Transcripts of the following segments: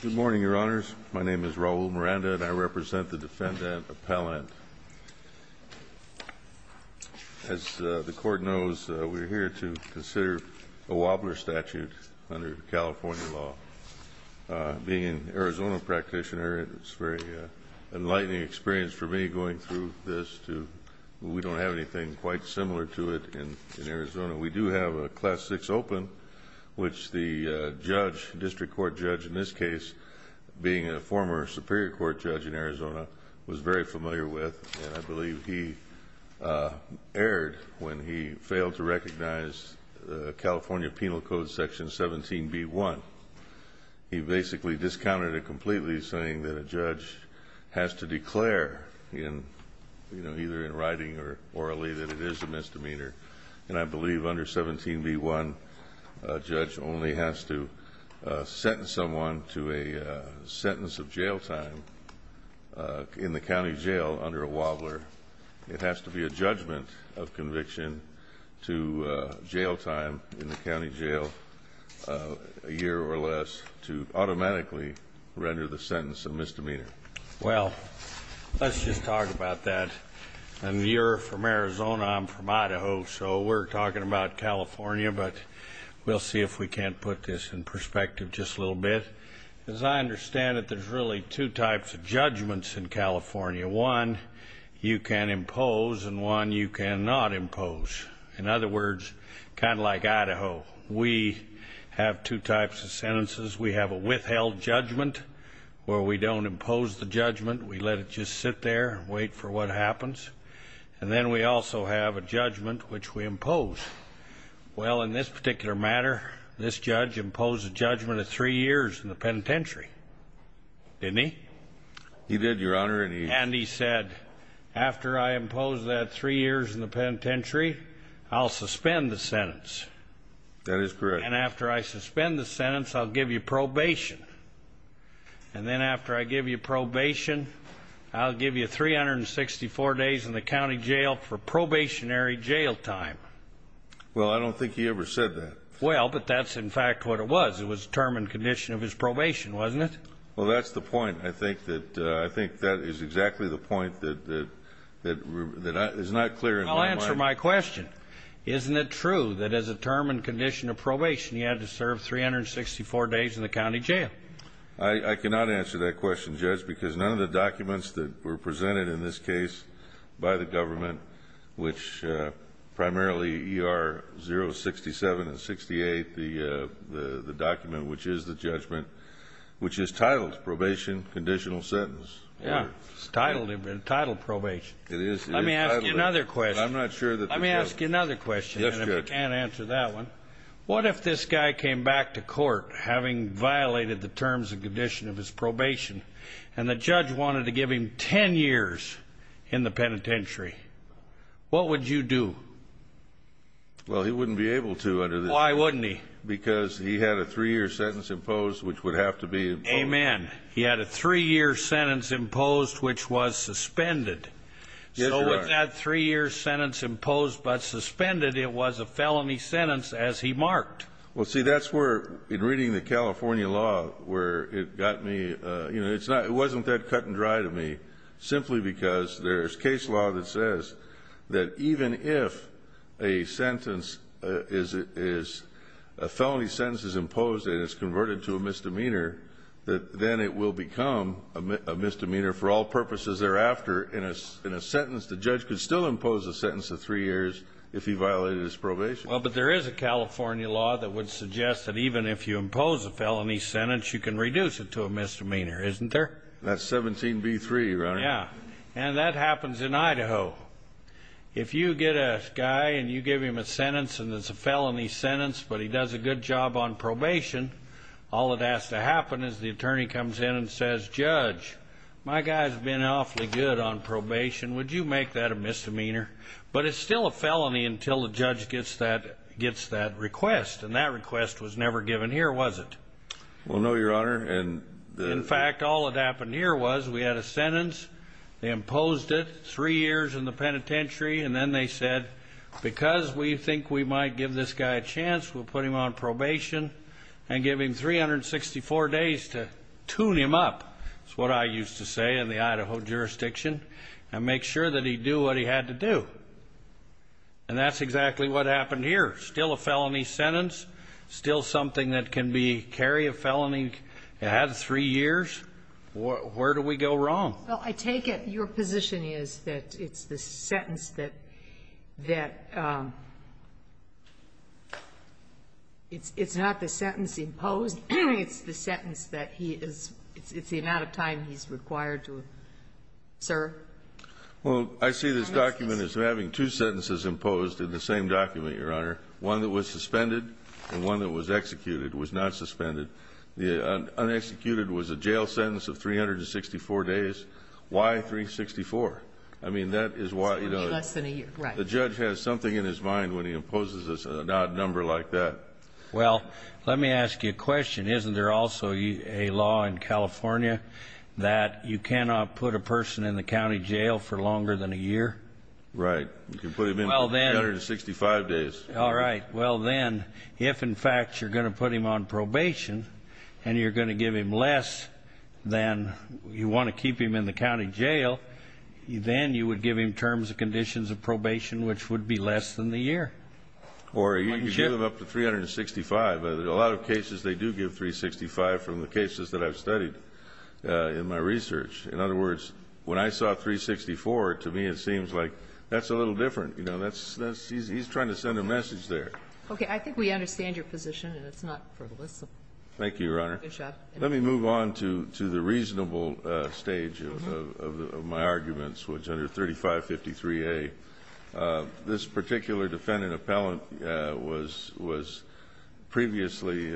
Good morning, Your Honors. My name is Raul Miranda, and I represent the Defendant Appellant. As the Court knows, we're here to consider a wobbler statute under California law. Being an Arizona practitioner, it's a very enlightening experience for me going through this, too. We don't have anything quite similar to it in Arizona. We do have a class 6 open, which the judge, district court judge in this case, being a former Superior Court judge in Arizona, was very familiar with. And I believe he erred when he failed to recognize California Penal Code Section 17b-1. He basically discounted it completely, saying that a judge has to declare, either in writing or orally, that it is a misdemeanor. And I believe under 17b-1, a judge only has to sentence someone to a sentence of jail time in the county jail under a wobbler. It has to be a judgment of conviction to jail time in the county jail, a year or less, to automatically render the sentence a misdemeanor. Well, let's just talk about that. And you're from Arizona, I'm from Idaho, so we're talking about California, but we'll see if we can't put this in perspective just a little bit. As I understand it, there's really two types of judgments in California. One you can impose and one you cannot impose. In other words, kind of like Idaho, we have two types of sentences. We have a withheld judgment where we don't impose the judgment. We let it just sit there and wait for what happens. And then we also have a judgment which we impose. Well, in this particular matter, this judge imposed a judgment of three years in the penitentiary, didn't he? He did, Your Honor. And he said, after I impose that three years in the penitentiary, I'll suspend the sentence. That is correct. And after I suspend the sentence, I'll give you probation. And then after I give you probation, I'll give you 364 days in the county jail for probationary jail time. Well, I don't think he ever said that. Well, but that's in fact what it was. It was a term and condition of his probation, wasn't it? Well, that's the point. I think that is exactly the point that is not clear in my mind. I'll answer my question. Isn't it true that as a term and condition of probation, he had to serve 364 days in the county jail? I cannot answer that question, Judge, because none of the documents that were presented in this case by the government, which primarily ER 067 and 68, the document which is the judgment, which is titled probation, conditional sentence. Yeah, it's titled probation. It is. Let me ask you another question. I'm not sure that the judge – Let me ask you another question. Yes, Judge. And if you can't answer that one, what if this guy came back to court having violated the terms and condition of his probation and the judge wanted to give him 10 years in the penitentiary, what would you do? Well, he wouldn't be able to under the – Why wouldn't he? Because he had a three-year sentence imposed which would have to be imposed. Amen. He had a three-year sentence imposed which was suspended. Yes, Your Honor. He had a three-year sentence imposed but suspended. It was a felony sentence as he marked. Well, see, that's where, in reading the California law, where it got me – you know, it's not – it wasn't that cut and dry to me simply because there's case law that says that even if a sentence is – a felony sentence is imposed and it's converted to a misdemeanor, that then it will become a misdemeanor for all purposes thereafter in a sentence. The judge could still impose a sentence of three years if he violated his probation. Well, but there is a California law that would suggest that even if you impose a felony sentence, you can reduce it to a misdemeanor, isn't there? That's 17b-3, Your Honor. Yeah. And that happens in Idaho. If you get a guy and you give him a sentence and it's a felony sentence but he does a good job on probation, all that has to happen is the attorney comes in and says, Judge, my guy's been awfully good on probation. Would you make that a misdemeanor? But it's still a felony until the judge gets that request, and that request was never given here, was it? Well, no, Your Honor. In fact, all that happened here was we had a sentence. They imposed it three years in the penitentiary, and then they said, because we think we might give this guy a chance, we'll put him on probation and give him 364 days to tune him up, is what I used to say in the Idaho jurisdiction, and make sure that he'd do what he had to do. And that's exactly what happened here. Still a felony sentence, still something that can be carried, a felony that had three years. Where do we go wrong? Well, I take it your position is that it's the sentence that it's not the sentence imposed, it's the sentence that he is the amount of time he's required to serve? Well, I see this document as having two sentences imposed in the same document, Your Honor, one that was suspended and one that was executed, was not suspended. The unexecuted was a jail sentence of 364 days. Why 364? I mean, that is why, you know, the judge has something in his mind when he imposes an odd number like that. Well, let me ask you a question. Isn't there also a law in California that you cannot put a person in the county jail for longer than a year? Right. You can put him in for 365 days. All right. Well, then, if, in fact, you're going to put him on probation and you're going to give him less than you want to keep him in the county jail, then you would give him terms and conditions of probation which would be less than the year. Or you can give him up to 365. A lot of cases they do give 365 from the cases that I've studied in my research. In other words, when I saw 364, to me it seems like that's a little different. You know, he's trying to send a message there. Okay. I think we understand your position, and it's not frivolous. Thank you, Your Honor. Good job. Let me move on to the reasonable stage of my arguments, which under 3553A, this particular defendant appellant was previously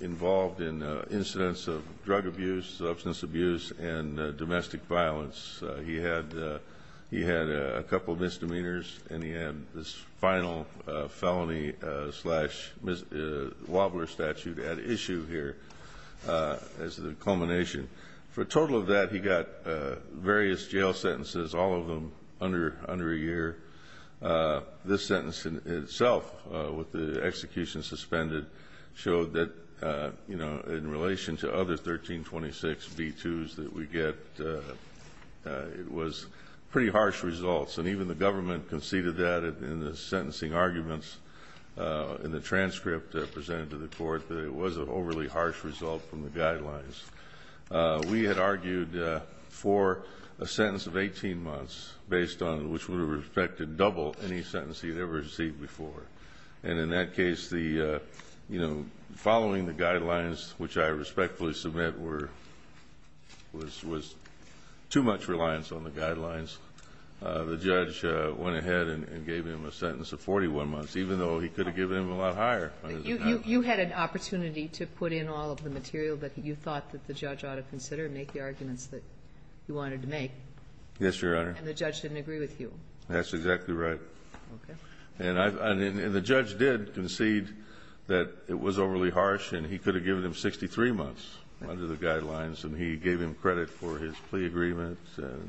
involved in incidents of drug abuse, substance abuse, and domestic violence. He had a couple misdemeanors, and he had this final felony-slash-wobbler statute at issue here as the culmination. For a total of that, he got various jail sentences, all of them under a year. This sentence itself, with the execution suspended, showed that, you know, in relation to other 1326B2s that we get, it was pretty harsh results. And even the government conceded that in the sentencing arguments in the transcript presented to the court, that it was an overly harsh result from the guidelines. We had argued for a sentence of 18 months, based on which we respected double any sentence he had ever received before. And in that case, the, you know, following the guidelines, which I respectfully submit were too much reliance on the guidelines, the judge went ahead and gave him a sentence of 41 months, even though he could have given him a lot higher. You had an opportunity to put in all of the material that you thought that the judge ought to consider and make the arguments that you wanted to make. Yes, Your Honor. And the judge didn't agree with you. That's exactly right. Okay. And the judge did concede that it was overly harsh, and he could have given him 63 months under the guidelines, and he gave him credit for his plea agreement.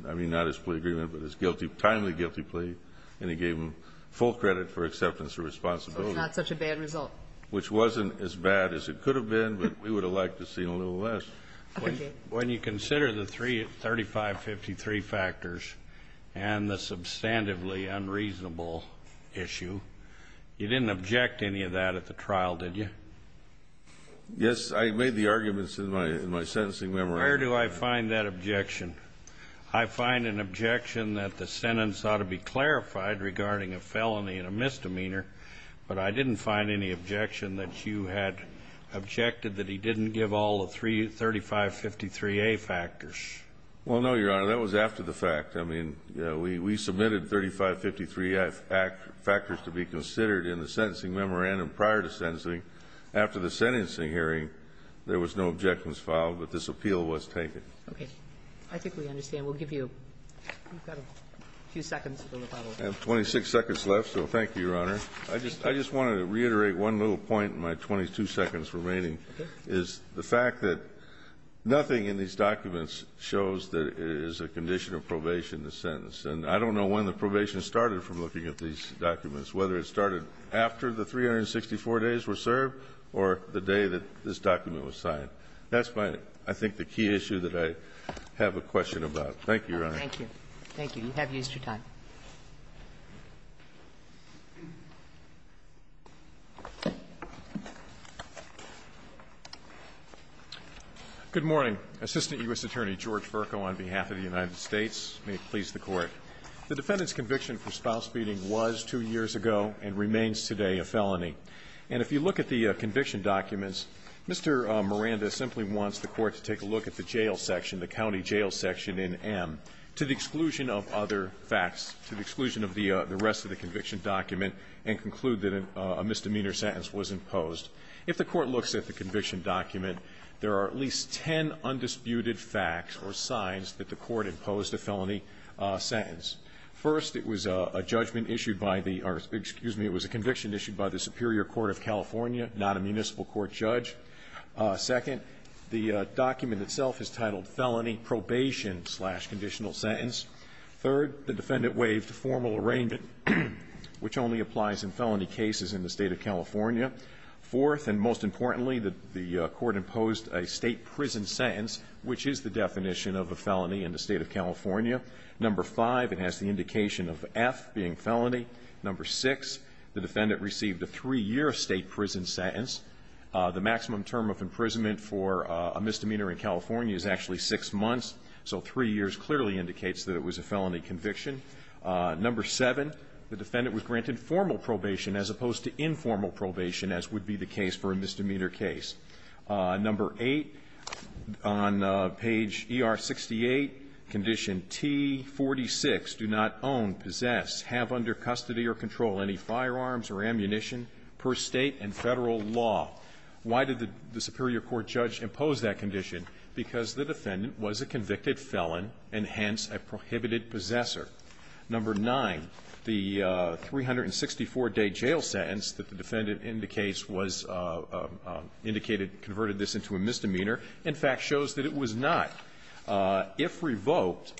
I mean, not his plea agreement, but his guilty, timely guilty plea, and he gave him full credit for acceptance of responsibility. So it's not such a bad result. Which wasn't as bad as it could have been, but we would have liked to see a little less. Okay. When you consider the 3553 factors and the substantively unreasonable issue, you didn't object to any of that at the trial, did you? Yes. I made the arguments in my sentencing memorandum. Where do I find that objection? I find an objection that the sentence ought to be clarified regarding a felony and a misdemeanor, but I didn't find any objection that you had objected that he didn't give all the three 3553A factors. Well, no, Your Honor. That was after the fact. I mean, we submitted 3553A factors to be considered in the sentencing memorandum prior to sentencing. After the sentencing hearing, there was no objections filed, but this appeal was taken. Okay. I think we understand. We'll give you a few seconds for the rebuttal. I have 26 seconds left, so thank you, Your Honor. I just wanted to reiterate one little point in my 22 seconds remaining, is the fact that nothing in these documents shows that it is a condition of probation, the sentence. And I don't know when the probation started from looking at these documents, whether it started after the 364 days were served or the day that this document was signed. That's my, I think, the key issue that I have a question about. Thank you, Your Honor. Thank you. Thank you. You have used your time. Good morning. Assistant U.S. Attorney George Vercoe on behalf of the United States. May it please the Court. The defendant's conviction for spouse-feeding was two years ago and remains today a felony. And if you look at the conviction documents, Mr. Miranda simply wants the Court to take a look at the jail section, the county jail section in M, to the exclusion of other facts, to the exclusion of the rest of the conviction document, and conclude that a misdemeanor sentence was imposed. If the Court looks at the conviction document, there are at least ten undisputed facts or signs that the Court imposed a felony sentence. First, it was a judgment issued by the, or excuse me, it was a conviction issued by the Superior Court of California, not a municipal court judge. Second, the document itself is titled Felony Probation Slash Conditional Sentence. Third, the defendant waived formal arraignment, which only applies in felony cases in the State of California. Fourth, and most importantly, the Court imposed a state prison sentence, which is the definition of a felony in the State of California. Number five, it has the indication of F being felony. Number six, the defendant received a three-year state prison sentence. The maximum term of imprisonment for a misdemeanor in California is actually six months, so three years clearly indicates that it was a felony conviction. Number seven, the defendant was granted formal probation as opposed to informal probation, as would be the case for a misdemeanor case. Number eight, on page ER-68, condition T-46, do not own, possess, have under custody or control any firearms or ammunition per State and Federal law. Why did the Superior Court judge impose that condition? Because the defendant was a convicted felon and hence a prohibited possessor. Number nine, the 364-day jail sentence that the defendant indicates was indicated converted this into a misdemeanor, in fact, shows that it was not. If revoked,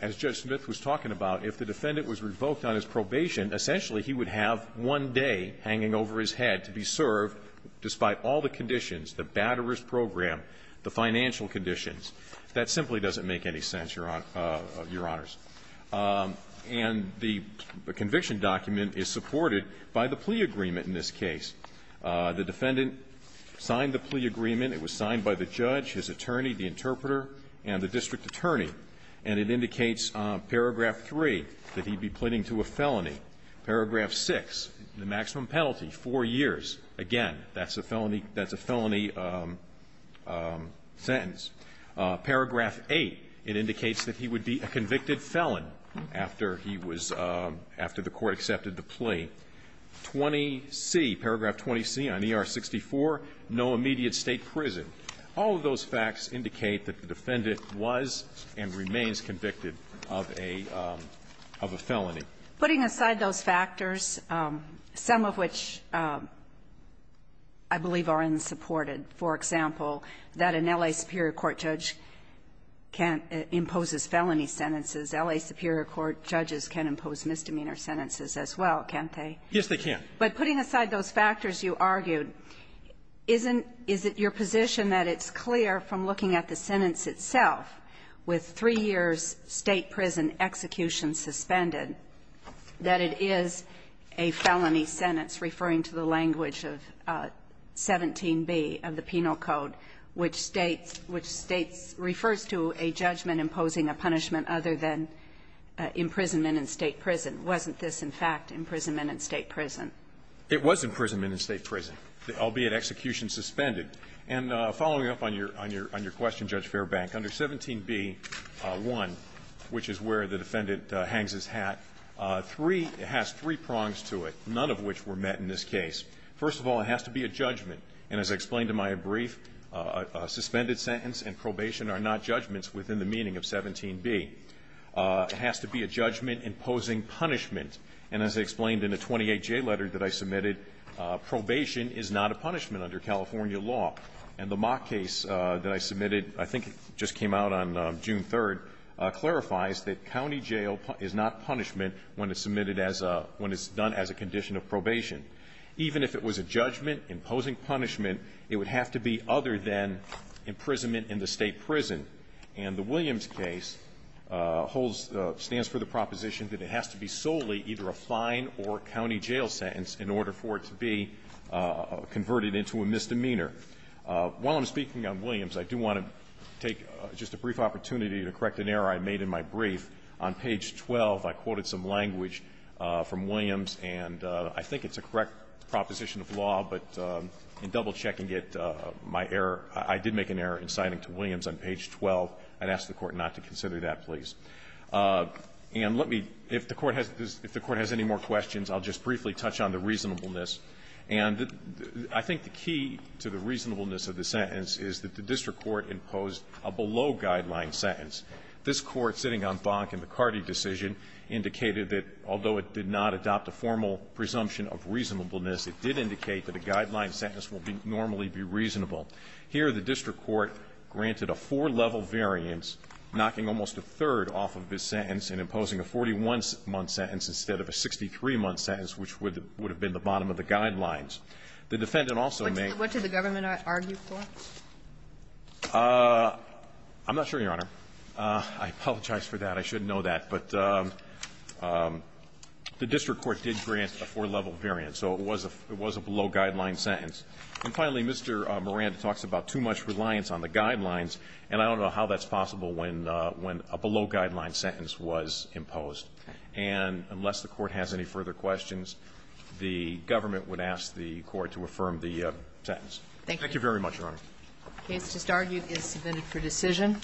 as Judge Smith was talking about, if the defendant was revoked on his probation, essentially he would have one day hanging over his head to be served despite all the conditions, the bad arrears program, the financial conditions. That simply doesn't make any sense, Your Honor, Your Honors. And the conviction document is supported by the plea agreement in this case. The defendant signed the plea agreement. It was signed by the judge, his attorney, the interpreter, and the district attorney. And it indicates, paragraph 3, that he'd be pleading to a felony. Paragraph 6, the maximum penalty, 4 years. Again, that's a felony, that's a felony sentence. Paragraph 8, it indicates that he would be a convicted felon after he was, after the court accepted the plea. 20C, paragraph 20C on ER-64, no immediate State prison. All of those facts indicate that the defendant was and remains convicted of a felony. Putting aside those factors, some of which I believe are unsupported, for example, that an L.A. Superior Court judge can't impose his felony sentences, L.A. Superior Court judges can impose misdemeanor sentences as well, can't they? Yes, they can. But putting aside those factors you argued, is it your position that it's clear from looking at the sentence itself, with 3 years' State prison execution suspended, that it is a felony sentence, referring to the language of 17b of the Penal Code, which states, which states, refers to a judgment imposing a punishment other than imprisonment in State prison? Wasn't this, in fact, imprisonment in State prison? It was imprisonment in State prison, albeit execution suspended. And following up on your question, Judge Fairbank, under 17b-1, which is where the defendant hangs his hat, three, it has three prongs to it, none of which were met in this case. First of all, it has to be a judgment. And as I explained in my brief, a suspended sentence and probation are not judgments within the meaning of 17b. It has to be a judgment imposing punishment. And as I explained in the 28J letter that I submitted, probation is not a punishment under California law. And the mock case that I submitted, I think it just came out on June 3rd, clarifies that county jail is not punishment when it's submitted as a – when it's done as a condition of probation. Even if it was a judgment imposing punishment, it would have to be other than imprisonment in the State prison. And the Williams case holds – stands for the proposition that it has to be solely either a fine or county jail sentence in order for it to be converted into a misdemeanor. While I'm speaking on Williams, I do want to take just a brief opportunity to correct an error I made in my brief. On page 12, I quoted some language from Williams. And I think it's a correct proposition of law, but in double-checking it, my error – I did make an error in citing to Williams on page 12. I'd ask the Court not to consider that, please. And let me – if the Court has – if the Court has any more questions, I'll just briefly touch on the reasonableness. And I think the key to the reasonableness of the sentence is that the district court imposed a below-guideline sentence. This Court, sitting on Bonk and McCarty decision, indicated that although it did not adopt a formal presumption of reasonableness, it did indicate that a guideline sentence will be – normally be reasonable. Here, the district court granted a four-level variance, knocking almost a third off of this sentence and imposing a 41-month sentence instead of a 63-month sentence, which would have been the bottom of the guidelines. The defendant also made – What did the government argue for? I'm not sure, Your Honor. I apologize for that. I shouldn't know that. But the district court did grant a four-level variance, so it was a – it was a below-guideline sentence. And finally, Mr. Moran talks about too much reliance on the guidelines, and I don't know how that's possible when – when a below-guideline sentence was imposed. And unless the Court has any further questions, the government would ask the Court to affirm the sentence. Thank you. Thank you very much, Your Honor. The case just argued is submitted for decision.